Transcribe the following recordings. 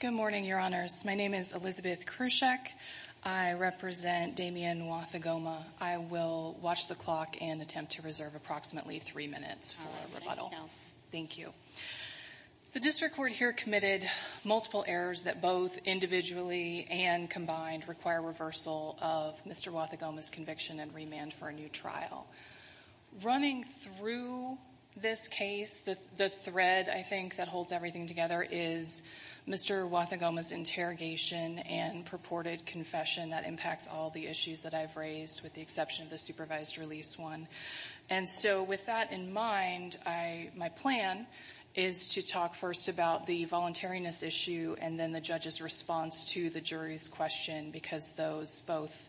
Good morning, Your Honors. My name is Elizabeth Krusek. I represent Damien Wathogoma. I will watch the clock and attempt to reserve approximately three minutes for a rebuttal. Thank you. The district court here committed multiple errors that both individually and combined require reversal of Mr. Wathogoma's conviction and remand for a new trial. Running through this case, the thread I think that holds everything together is Mr. Wathogoma's interrogation and purported confession that impacts all the issues that I've raised with the exception of the supervised release one. And so with that in mind, my plan is to talk first about the voluntariness issue and then the judge's response to the jury's question, because those both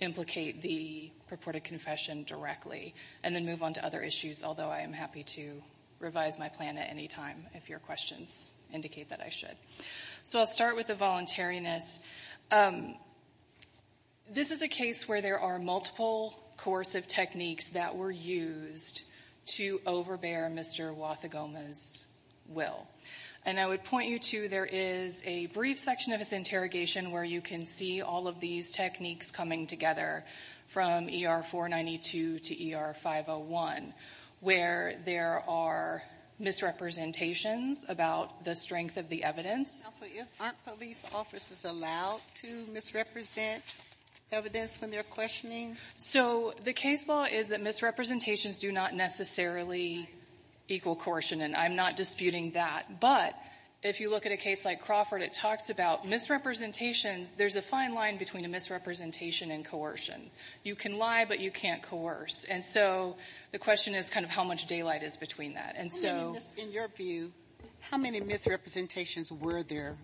implicate the purported confession directly, and then move on to other issues, although I am happy to revise my plan at any time if your questions indicate that I should. So I'll start with the voluntariness. This is a case where there are multiple coercive techniques that were used to overbear Mr. Wathogoma's will. And I would point you to there is a brief section of his interrogation where you can see all of these techniques coming together from ER 492 to ER 501, where there are misrepresentations about the strength of the evidence. Counsel, aren't police officers allowed to misrepresent evidence when they're questioning? So the case law is that misrepresentations do not necessarily equal coercion, and I'm not disputing that. But if you look at a case like Crawford, it talks about misrepresentations. There's a fine line between a misrepresentation and coercion. You can lie, but you can't coerce. And so the question is kind of how much daylight is between that. And so — In your view, how many misrepresentations were there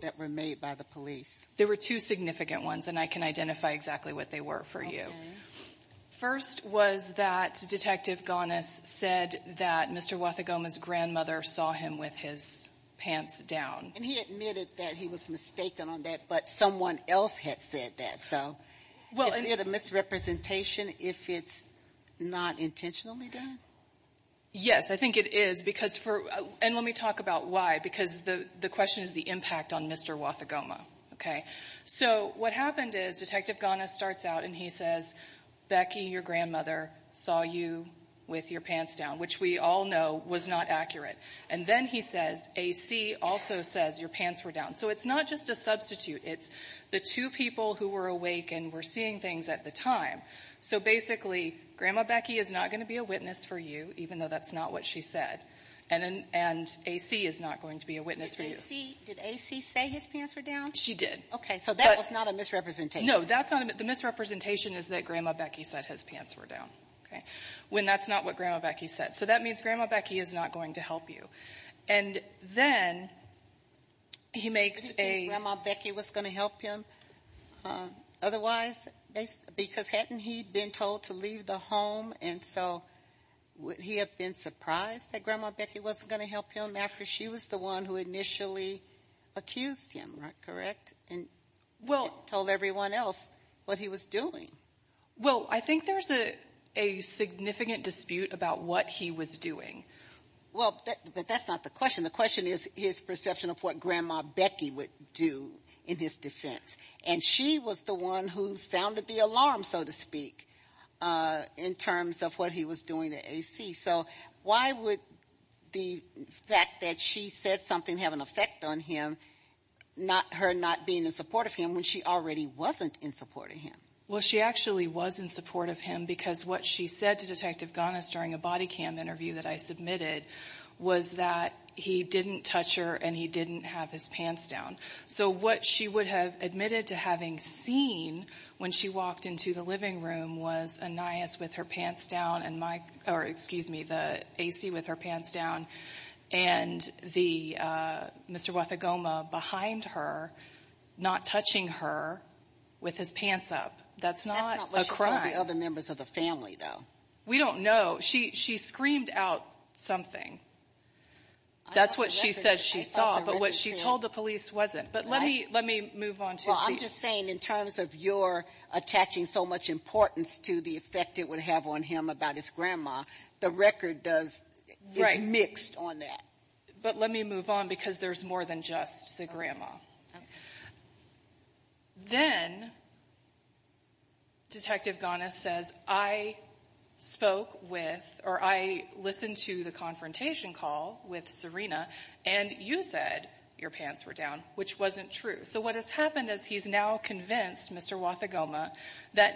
that were made by the police? There were two significant ones, and I can identify exactly what they were for you. First was that Detective Ghanis said that Mr. Wathogoma's grandmother saw him with his pants down. And he admitted that he was mistaken on that, but someone else had said that. So is it a misrepresentation if it's not intentionally done? Yes, I think it is, because for — and let me talk about why, because the question is the impact on Mr. Wathogoma, okay? So what happened is Detective Ghanis starts out and he says, Becky, your grandmother saw you with your pants down, which we all know was not accurate. And then he says, A.C. also says your pants were down. So it's not just a substitute. It's the two people who were awake and were seeing things at the time. So basically, Grandma Becky is not going to be a witness for you, even though that's not what she said. And A.C. is not going to be a witness for you. Did A.C. say his pants were down? She did. Okay, so that was not a misrepresentation. No, that's not a — the misrepresentation is that Grandma Becky said his pants were down, okay, when that's not what Grandma Becky said. So that means Grandma Becky is not going to help you. And then he makes a — You think Grandma Becky was going to help him? Otherwise, because hadn't he been told to leave the home, and so would he have been surprised that Grandma Becky wasn't going to help him after she was the one who initially accused him, correct? And told everyone else what he was doing. Well, I think there's a significant dispute about what he was doing. Well, but that's not the question. The question is his perception of what Grandma Becky would do in his defense. And she was the one who sounded the alarm, so to speak, in terms of what he was doing to A.C. So why would the fact that she said something have an effect on him, her not being in support of him, when she already wasn't in support of him? Well, she actually was in support of him because what she said to Detective Ganas during a body cam interview that I submitted was that he didn't touch her and he didn't have his pants down. So what she would have admitted to having seen when she walked into the living room was Anais with her pants down and Mike, or excuse me, the A.C. with her pants down and the Mr. Guatagoma behind her not touching her with his pants up. That's not a crime. That's not what she told the other members of the family, though. We don't know. She screamed out something. That's what she said she saw, but what she told the police wasn't. But let me move on to you. I'm just saying in terms of your attaching so much importance to the effect it would have on him about his grandma, the record is mixed on that. But let me move on because there's more than just the grandma. Then Detective Ganas says, I spoke with or I listened to the confrontation call with Serena and you said your pants were down, which wasn't true. So what has happened is he's now convinced Mr. Guatagoma that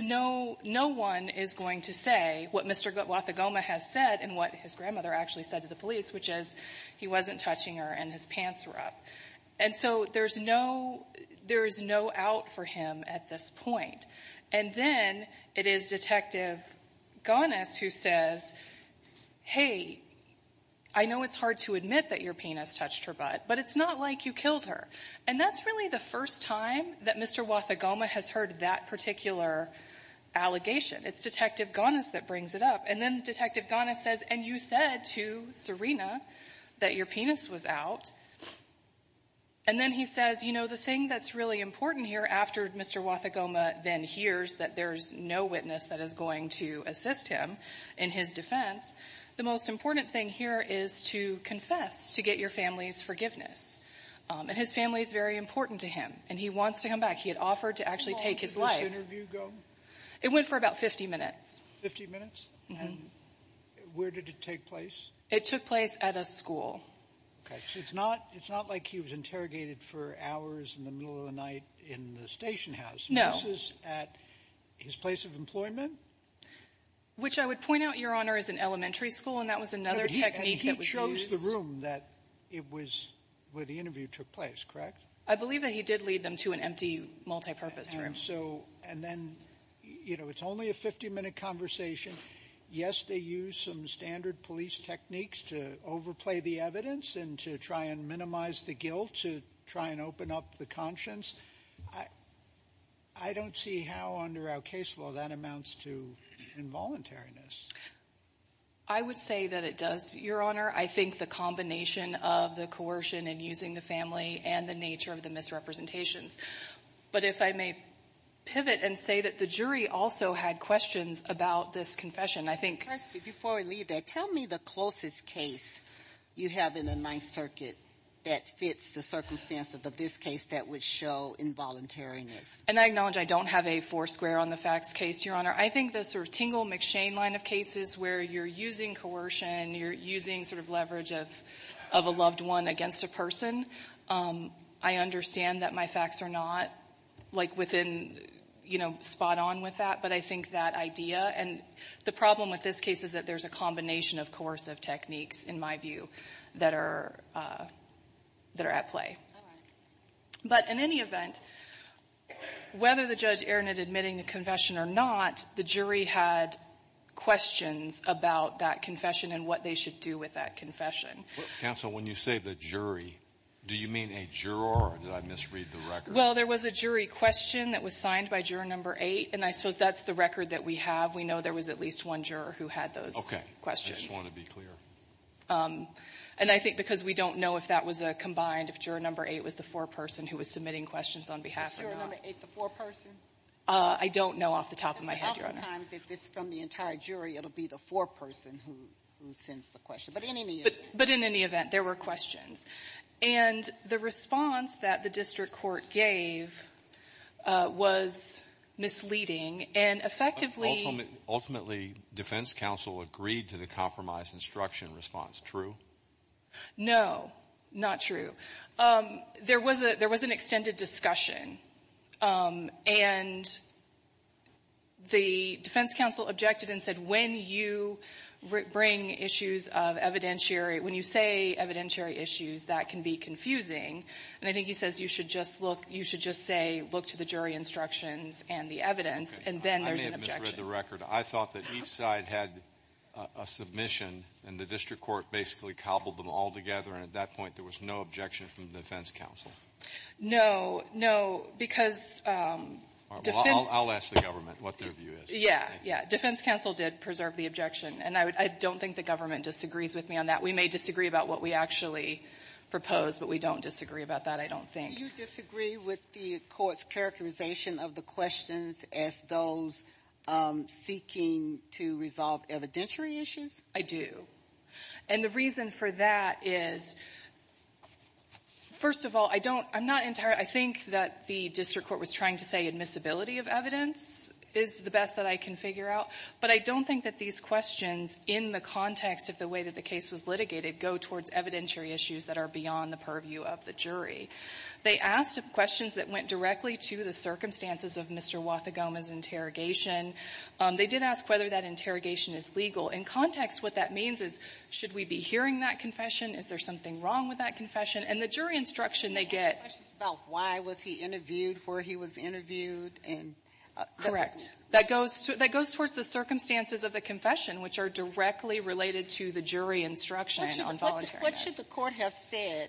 no one is going to say what Mr. Guatagoma has said and what his grandmother actually said to the police, which is he wasn't touching her and his pants were up. And so there's no out for him at this point. And then it is Detective Ganas who says, hey, I know it's hard to admit that your penis touched her butt, but it's not like you killed her. And that's really the first time that Mr. Guatagoma has heard that particular allegation. It's Detective Ganas that brings it up. And then Detective Ganas says, and you said to Serena that your penis was out. And then he says, you know, the thing that's really important here after Mr. Guatagoma then hears that there's no witness that is going to assist him in his defense. The most important thing here is to confess to get your family's forgiveness. And his family is very important to him. And he wants to come back. He had offered to actually take his life. How long did this interview go? It went for about 50 minutes. 50 minutes? Where did it take place? It took place at a school. Okay, so it's not like he was interrogated for hours in the middle of the night in the station house. No. This is at his place of employment? Which I would point out, Your Honor, is an elementary school. And that was another technique that was used. And he chose the room that it was where the interview took place, correct? I believe that he did lead them to an empty multipurpose room. So and then, you know, it's only a 50-minute conversation. Yes, they used some standard police techniques to overplay the evidence and to try and minimize the guilt, to try and open up the conscience. I don't see how under our case law that amounts to involuntariness. I would say that it does, Your Honor. I think the combination of the coercion and using the family and the nature of the misrepresentations. But if I may pivot and say that the jury also had questions about this confession, I think. Before I leave that, tell me the closest case you have in the Ninth Circuit that fits the circumstances of this case that would show involuntariness. And I acknowledge I don't have a four square on the facts case, Your Honor. I think the sort of Tingle McShane line of cases where you're using coercion, you're using sort of leverage of a loved one against a person, I understand that my facts are not like within, you know, spot on with that. But I think that idea and the problem with this case is that there's a combination of coercive techniques, in my view, that are at play. All right. But in any event, whether the judge erranted admitting the confession or not, the jury had questions about that confession and what they should do with that Counsel, when you say the jury, do you mean a juror, or did I misread the record? Well, there was a jury question that was signed by juror number eight, and I suppose that's the record that we have. We know there was at least one juror who had those questions. I just want to be clear. And I think because we don't know if that was a combined, if juror number eight was the foreperson who was submitting questions on behalf or not. Is juror number eight the foreperson? I don't know off the top of my head, Your Honor. Because a lot of times, if it's from the entire jury, it'll be the foreperson who sends the question. But in any event. But in any event, there were questions. And the response that the district court gave was misleading and effectively Ultimately, defense counsel agreed to the compromise instruction response. True? No, not true. There was a there was an extended discussion. And the defense counsel objected and said, when you bring issues of evidentiary, when you say evidentiary issues, that can be confusing. And I think he says you should just look, you should just say, look to the jury instructions and the evidence. And then there's an objection. I may have misread the record. I thought that each side had a submission and the district court basically cobbled them all together. And at that point, there was no objection from the defense counsel. No, no, because. I'll ask the government what their view is. Yeah, yeah. Defense counsel did preserve the objection. And I don't think the government disagrees with me on that. We may disagree about what we actually propose, but we don't disagree about that, I don't think. You disagree with the court's characterization of the questions as those seeking to resolve evidentiary issues? I do. And the reason for that is, first of all, I don't I'm not entirely I think that the district court was trying to say admissibility of evidence is the best that I can figure out. But I don't think that these questions in the context of the way that the case was litigated go towards evidentiary issues that are beyond the purview of the jury. They asked questions that went directly to the circumstances of Mr. Huatha Goma's interrogation. They did ask whether that interrogation is legal. In context, what that means is, should we be hearing that confession? Is there something wrong with that confession? And the jury instruction they get — The question is about why was he interviewed where he was interviewed and — Correct. That goes — that goes towards the circumstances of the confession, which are directly related to the jury instruction on voluntary — What should the court have said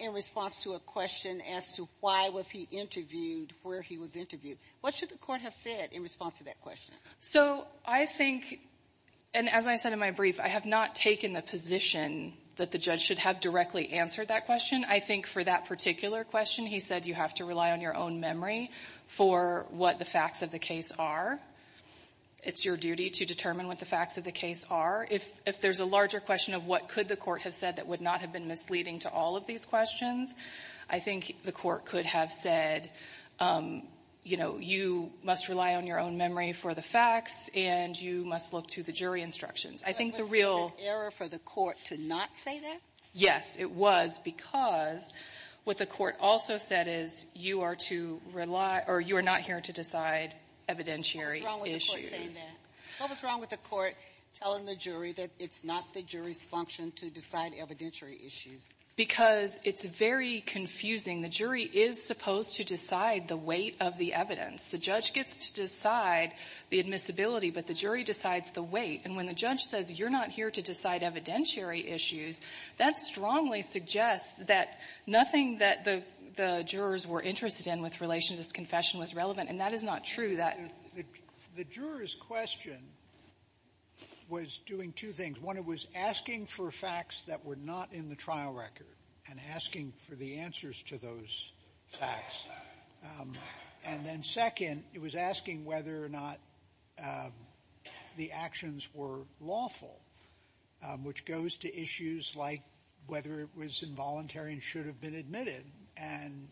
in response to a question as to why was he interviewed where he was interviewed? What should the court have said in response to that question? So I think — and as I said in my brief, I have not taken the position that the judge should have directly answered that question. I think for that particular question, he said you have to rely on your own memory for what the facts of the case are. It's your duty to determine what the facts of the case are. If there's a larger question of what could the court have said that would not have been misleading to all of these questions, I think the court could have said, you know, you must rely on your own memory for the facts, and you must look to the jury instructions. I think the real — Was it an error for the court to not say that? Yes, it was, because what the court also said is you are to rely — or you are not here to decide evidentiary issues. What was wrong with the court saying that? It's not the jury's function to decide evidentiary issues. Because it's very confusing. The jury is supposed to decide the weight of the evidence. The judge gets to decide the admissibility, but the jury decides the weight. And when the judge says you're not here to decide evidentiary issues, that strongly suggests that nothing that the jurors were interested in with relation to this confession was relevant, and that is not true. The juror's question was doing two things. One, it was asking for facts that were not in the trial record and asking for the answers to those facts. And then second, it was asking whether or not the actions were lawful, which goes to issues like whether it was involuntary and should have been admitted. And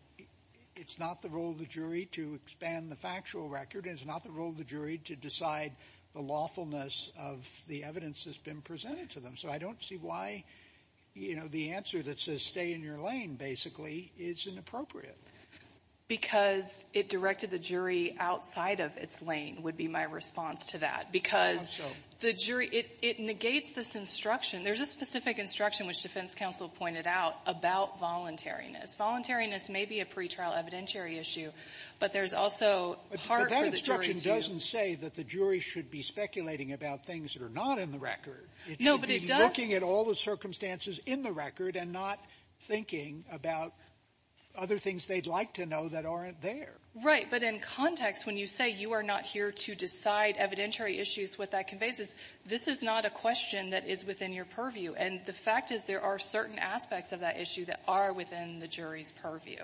it's not the role of the jury to expand the factual record. It's not the role of the jury to decide the lawfulness of the evidence that's been presented to them. So I don't see why, you know, the answer that says stay in your lane, basically, is inappropriate. Because it directed the jury outside of its lane would be my response to that. Because the jury — it negates this instruction. There's a specific instruction, which defense counsel pointed out, about voluntariness, voluntariness may be a pretrial evidentiary issue, but there's also part for the jury to — Sotomayor, but that instruction doesn't say that the jury should be speculating about things that are not in the record. It should be looking at all the circumstances in the record and not thinking about other things they'd like to know that aren't there. Right. But in context, when you say you are not here to decide evidentiary issues, what that conveys is this is not a question that is within your purview. And the fact is there are certain aspects of that issue that are within the jury's purview.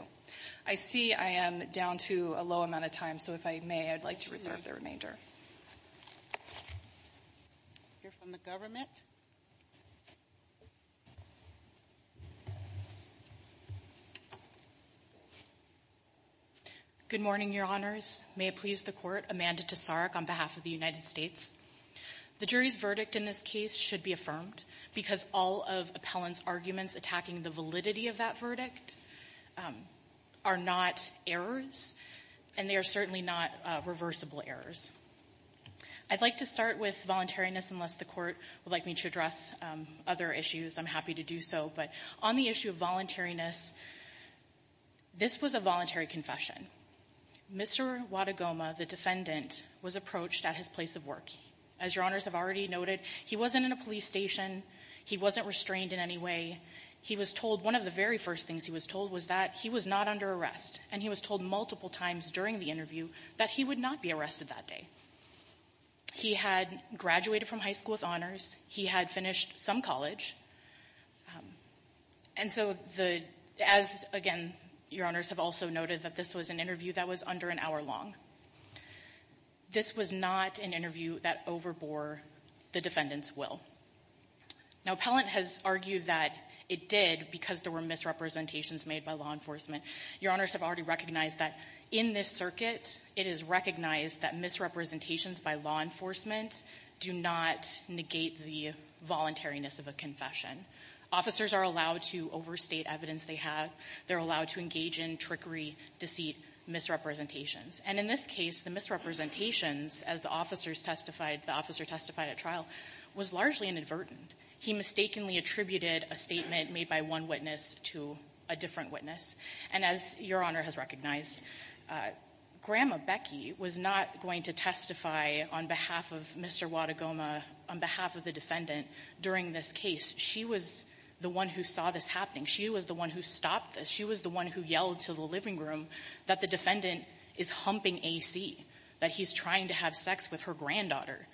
I see I am down to a low amount of time, so if I may, I'd like to reserve the remainder. Hear from the government. Good morning, Your Honors. May it please the Court, Amanda Tesaruk on behalf of the United States. The jury's verdict in this case should be affirmed because all of Appellant's arguments attacking the validity of that verdict are not errors, and they are certainly not reversible errors. I'd like to start with voluntariness unless the Court would like me to address other issues. I'm happy to do so, but on the issue of voluntariness, this was a voluntary confession. Mr. Wadigoma, the defendant, was approached at his place of work. As Your Honors have already noted, he wasn't in a police station. He wasn't restrained in any way. One of the very first things he was told was that he was not under arrest, and he was told multiple times during the interview that he would not be arrested that day. He had graduated from high school with honors. He had finished some college. And so, as again, Your Honors have also noted that this was an interview that was under an hour long. This was not an interview that overbore the defendant's will. Now, Appellant has argued that it did because there were misrepresentations made by law enforcement. Your Honors have already recognized that in this circuit, it is recognized that misrepresentations by law enforcement do not negate the voluntariness of a confession. Officers are allowed to overstate evidence they have. They're allowed to engage in trickery, deceit, misrepresentations. And in this case, the misrepresentations, as the officer testified at trial, was largely inadvertent. He mistakenly attributed a statement made by one witness to a different witness. And as Your Honor has recognized, Grandma Becky was not going to testify on behalf of Mr. Wadigoma, on behalf of the defendant, during this case. She was the one who saw this happening. She was the one who stopped this. She was the one who yelled to the living room that the defendant is humping AC, that he's trying to have sex with her granddaughter.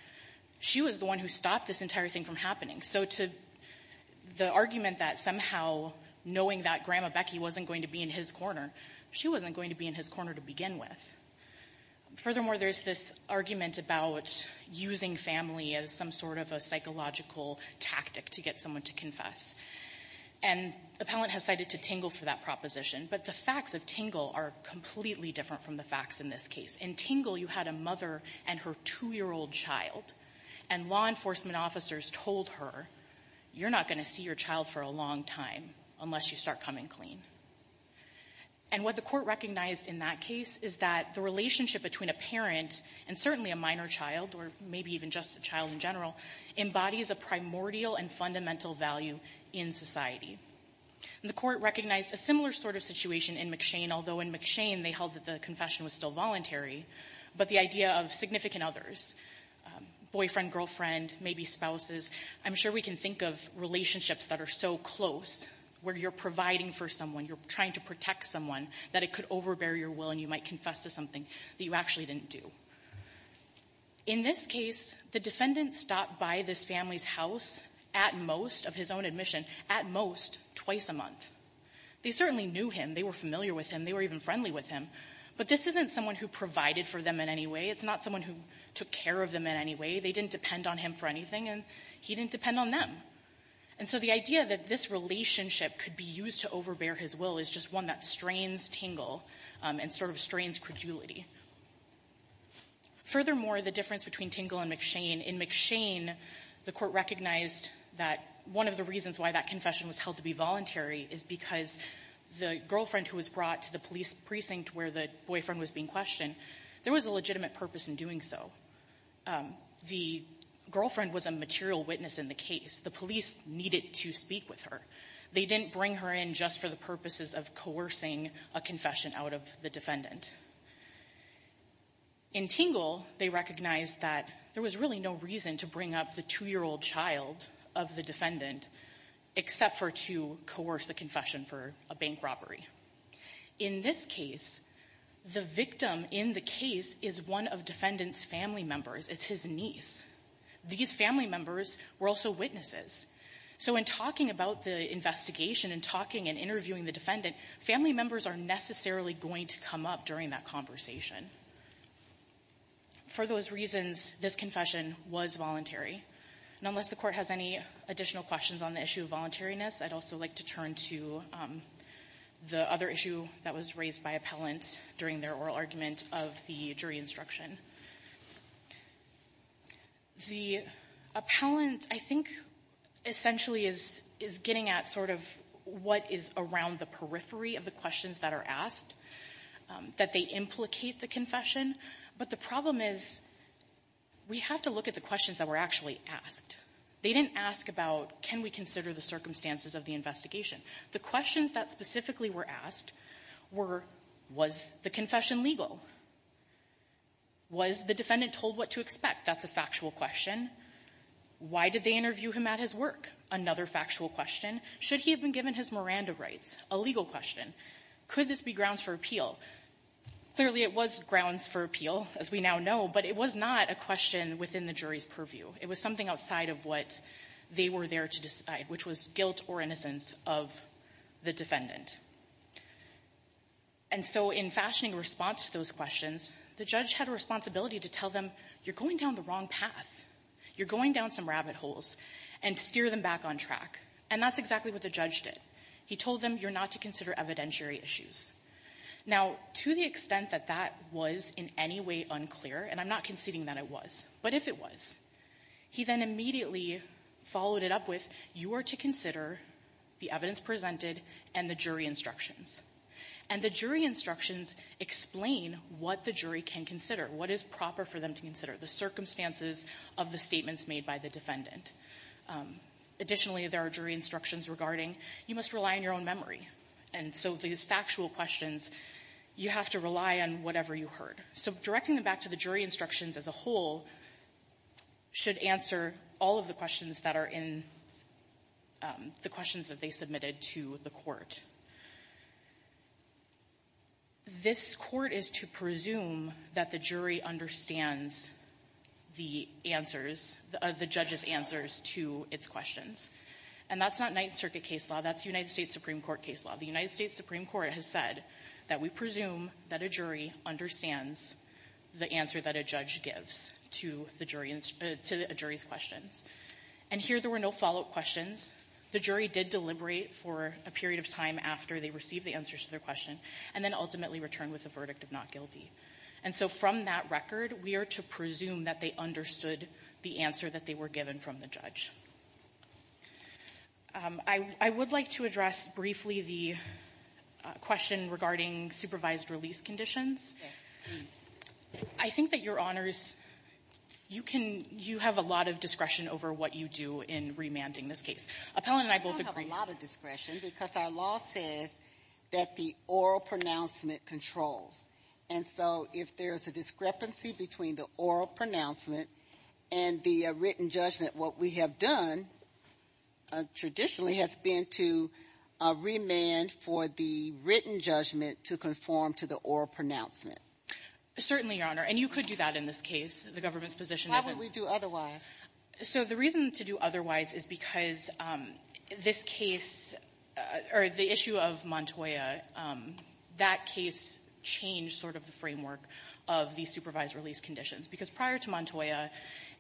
She was the one who stopped this entire thing from happening. So the argument that somehow, knowing that Grandma Becky wasn't going to be in his corner, she wasn't going to be in his corner to begin with. Furthermore, there's this argument about using family as some sort of a excuse for someone to confess. And the appellant has cited to Tingle for that proposition. But the facts of Tingle are completely different from the facts in this case. In Tingle, you had a mother and her two-year-old child, and law enforcement officers told her, you're not going to see your child for a long time unless you start coming clean. And what the Court recognized in that case is that the relationship between a parent and certainly a minor child, or maybe even just a child in general, embodies a primordial and fundamental value in society. And the Court recognized a similar sort of situation in McShane, although in McShane they held that the confession was still voluntary, but the idea of significant others, boyfriend, girlfriend, maybe spouses, I'm sure we can think of relationships that are so close where you're providing for someone, you're trying to protect someone, that it could overbear your will and you might confess to something that you actually didn't do. In this case, the defendant stopped by this family's house at most, of his own admission, at most twice a month. They certainly knew him. They were familiar with him. They were even friendly with him. But this isn't someone who provided for them in any way. It's not someone who took care of them in any way. They didn't depend on him for anything, and he didn't depend on them. And so the idea that this relationship could be used to overbear his will is just one that strains Tingle and sort of strains credulity. Furthermore, the difference between Tingle and McShane, in McShane, the court recognized that one of the reasons why that confession was held to be voluntary is because the girlfriend who was brought to the police precinct where the boyfriend was being questioned, there was a legitimate purpose in doing so. The girlfriend was a material witness in the case. The police needed to speak with her. They didn't bring her in just for the purposes of coercing a confession out of the defendant. In Tingle, they recognized that there was really no reason to bring up the two-year-old child of the defendant, except for to coerce the confession for a bank robbery. In this case, the victim in the case is one of defendant's family members. It's his niece. These family members were also witnesses. So in talking about the investigation and talking and interviewing the defendant, family members are necessarily going to come up to the defendant and say, what did you do during that conversation? For those reasons, this confession was voluntary. And unless the court has any additional questions on the issue of voluntariness, I'd also like to turn to the other issue that was raised by appellants during their oral argument of the jury instruction. The appellant, I think, essentially is getting at sort of what is around the questions that are asked, that they implicate the confession. But the problem is, we have to look at the questions that were actually asked. They didn't ask about, can we consider the circumstances of the investigation? The questions that specifically were asked were, was the confession legal? Was the defendant told what to expect? That's a factual question. Why did they interview him at his work? Another factual question. Should he have been given his Miranda rights? A legal question. Could this be grounds for appeal? Clearly, it was grounds for appeal, as we now know, but it was not a question within the jury's purview. It was something outside of what they were there to decide, which was guilt or innocence of the defendant. And so in fashioning a response to those questions, the judge had a responsibility to tell them, you're going down the wrong path. You're going down some rabbit holes and steer them back on track. And that's exactly what the judge did. He told them, you're not to consider evidentiary issues. Now, to the extent that that was in any way unclear, and I'm not conceding that it was, but if it was, he then immediately followed it up with, you are to consider the evidence presented and the jury instructions. And the jury instructions explain what the jury can consider, what is proper for them to consider, the circumstances of the statements made by the defendant. Additionally, there are jury instructions regarding, you must rely on your own memory. And so these factual questions, you have to rely on whatever you heard. So directing them back to the jury instructions as a whole should answer all of the questions that are in the questions that they submitted to the court. This court is to presume that the jury understands the answers, the judge's answers to its questions. And that's not Ninth Circuit case law. That's United States Supreme Court case law. The United States Supreme Court has said that we presume that a jury understands the answer that a judge gives to a jury's questions. And here there were no follow-up questions. The jury did deliberate for a period of time after they received the answers to their question and then ultimately returned with a verdict of not guilty. And so from that record, we are to presume that they understood the answer that they were given from the judge. I would like to address briefly the question regarding supervised release conditions. I think that, Your Honors, you can — you have a lot of discretion over what you do in remanding this case. Appellant and I both agree. I don't have a lot of discretion because our law says that the oral pronouncement controls. And so if there is a discrepancy between the oral pronouncement and the written judgment, what we have done traditionally has been to remand for the written judgment to conform to the oral pronouncement. Certainly, Your Honor. And you could do that in this case. The government's position isn't — Why would we do otherwise? So the reason to do otherwise is because this case — or the issue of Montoya, that case changed sort of the framework of the supervised release conditions. Because prior to Montoya,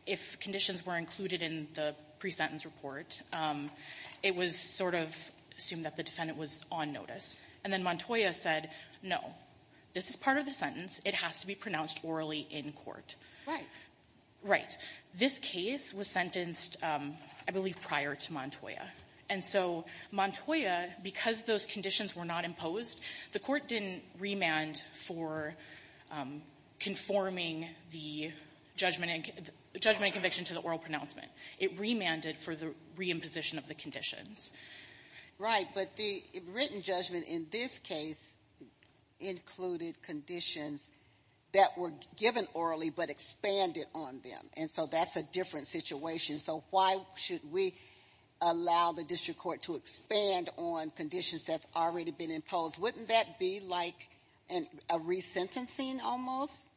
if conditions were included in the pre-sentence report, it was sort of assumed that the defendant was on notice. And then Montoya said, no, this is part of the sentence. It has to be pronounced orally in court. Right. Right. This case was sentenced, I believe, prior to Montoya. And so Montoya, because those conditions were not imposed, the court didn't remand for conforming the judgment and conviction to the oral pronouncement. It remanded for the reimposition of the conditions. But the written judgment in this case included conditions that were given orally but expanded on them. And so that's a different situation. So why should we allow the district court to expand on conditions that's already been imposed? Wouldn't that be like a resentencing almost?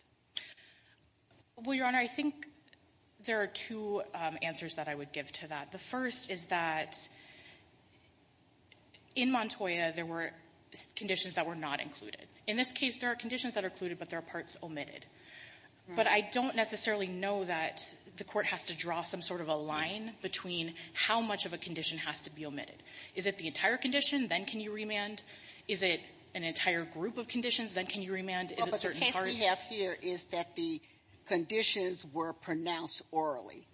Well, Your Honor, I think there are two answers that I would give to that. The first is that in Montoya, there were conditions that were not included. In this case, there are conditions that are included, but there are parts omitted. But I don't necessarily know that the court has to draw some sort of a line between how much of a condition has to be omitted. Is it the entire condition? Then can you remand? Is it an entire group of conditions? Then can you remand? Is it certain parts? Well, but the case we have here is that the conditions were pronounced orally.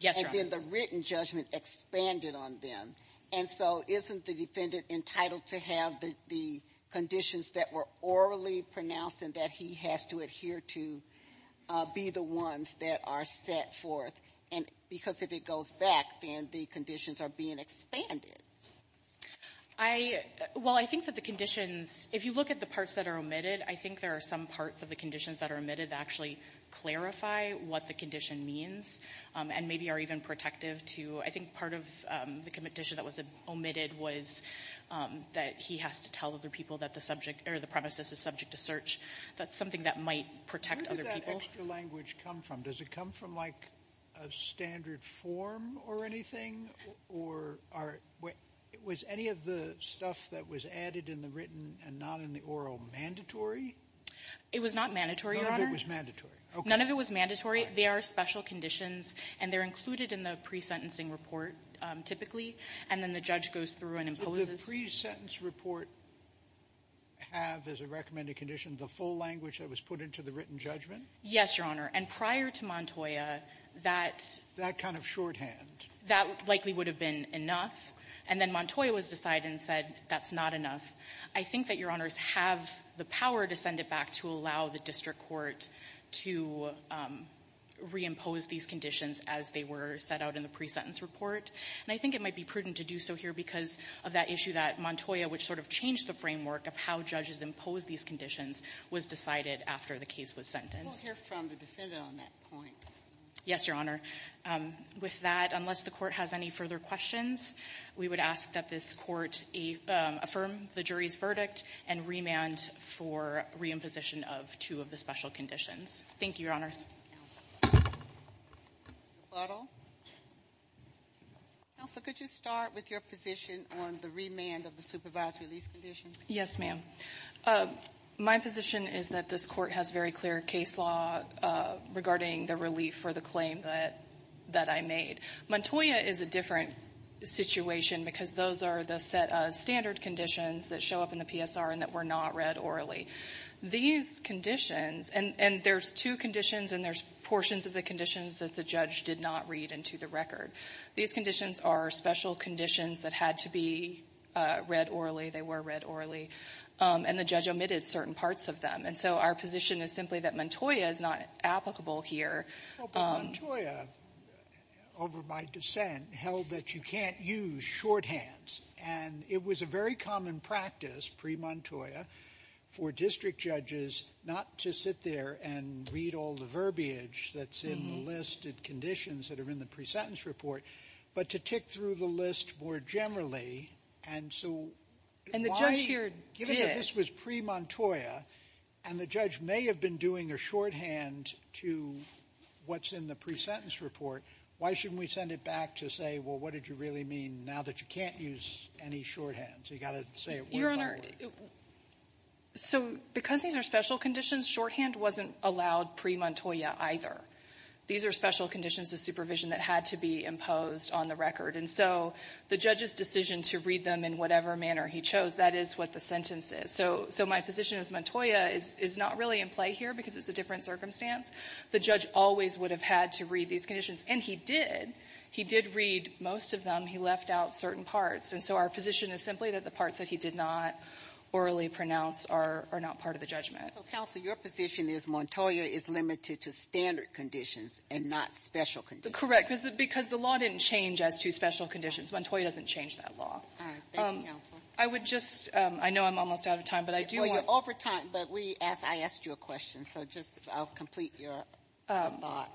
Yes, Your Honor. And then the written judgment expanded on them. And so isn't the defendant entitled to have the conditions that were orally pronounced and that he has to adhere to be the ones that are set forth? And because if it goes back, then the conditions are being expanded. Well, I think that the conditions, if you look at the parts that are omitted, I think there are some parts of the conditions that are omitted that actually clarify what the condition means and maybe are even protective to. I think part of the condition that was omitted was that he has to tell other people that the premises is subject to search. That's something that might protect other people. Where did that extra language come from? Does it come from like a standard form or anything? Was any of the stuff that was added in the written and not in the oral mandatory? It was not mandatory, Your Honor. None of it was mandatory. None of it was mandatory. They are special conditions, and they're included in the pre-sentencing report, typically, and then the judge goes through and imposes. Does the pre-sentence report have as a recommended condition the full language that was put into the written judgment? Yes, Your Honor. And prior to Montoya, that. That kind of shorthand. That likely would have been enough. And then Montoya was decided and said that's not enough. I think that Your Honors have the power to send it back to allow the district court to reimpose these conditions as they were set out in the pre-sentence report. And I think it might be prudent to do so here because of that issue that Montoya, which sort of changed the framework of how judges impose these conditions, was decided after the case was sentenced. We'll hear from the defendant on that point. Yes, Your Honor. With that, unless the court has any further questions, we would ask that this court affirm the jury's verdict and remand for reimposition of two of the special conditions. Thank you, Your Honors. Counsel, could you start with your position on the remand of the supervised release conditions? Yes, ma'am. My position is that this court has very clear case law regarding the relief for the claim that I made. Montoya is a different situation because those are the set of standard conditions that show up in the PSR and that were not read orally. These conditions, and there's two conditions, and there's portions of the conditions that the judge did not read into the record. These conditions are special conditions that had to be read orally. They were read orally. And the judge omitted certain parts of them. And so our position is simply that Montoya is not applicable here. Well, but Montoya, over my dissent, held that you can't use shorthands. And it was a very common practice pre-Montoya for district judges not to sit there and read all the verbiage that's in the list of conditions that are in the pre-sentence report, but to tick through the list more generally. And so why? And the judge here did. Given that this was pre-Montoya and the judge may have been doing a shorthand to what's in the pre-sentence report, why shouldn't we send it back to say, well, what did you really mean now that you can't use any shorthands? You've got to say it word by word. Your Honor, so because these are special conditions, shorthand wasn't allowed pre-Montoya either. These are special conditions of supervision that had to be imposed on the record. And so the judge's decision to read them in whatever manner he chose, that is what the sentence is. So my position is Montoya is not really in play here because it's a different circumstance. The judge always would have had to read these conditions. And he did. He did read most of them. He left out certain parts. And so our position is simply that the parts that he did not orally pronounce are not part of the judgment. Counsel, your position is Montoya is limited to standard conditions and not special conditions. Correct. Because the law didn't change as to special conditions. Montoya doesn't change that law. All right. Thank you, Counsel. I would just — I know I'm almost out of time, but I do want — Well, you're over time, but we — I asked you a question. So just — I'll complete your thought.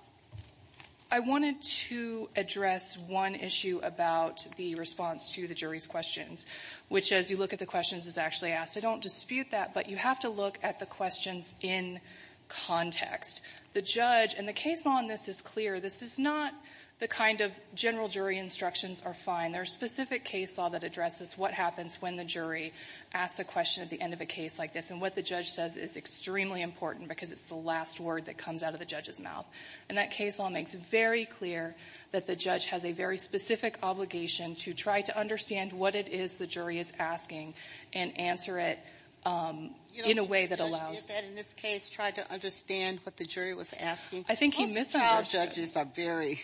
I wanted to address one issue about the response to the jury's questions, which, as you look at the questions, is actually asked. I don't dispute that, but you have to look at the questions in context. The judge — and the case law on this is clear. This is not the kind of general jury instructions are fine. There are specific case law that addresses what happens when the jury asks a question at the end of a case like this. And what the judge says is extremely important because it's the last word that comes out of the judge's mouth. And that case law makes very clear that the judge has a very specific obligation to try to understand what it is the jury is asking and answer it in a way that allows — You know, the judge did that in this case, tried to understand what the jury was asking. I think he misunderstood. Most trial judges are very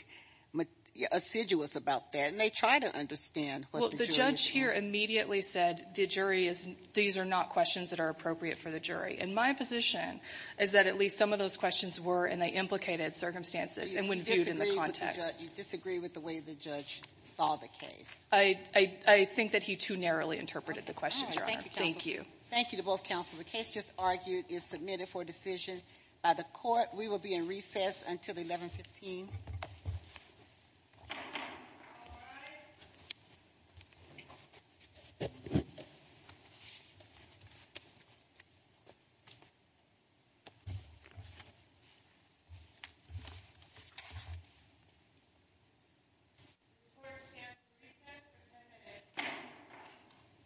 assiduous about that, and they try to understand what the jury is asking. Well, the judge here immediately said the jury is — these are not questions that are appropriate for the jury. And my position is that at least some of those questions were in the implicated circumstances and when viewed in the context. You disagree with the way the judge saw the case. I think that he too narrowly interpreted the question, Your Honor. Thank you. Thank you to both counsel. The case just argued is submitted for decision by the Court. We will be in recess until 1115.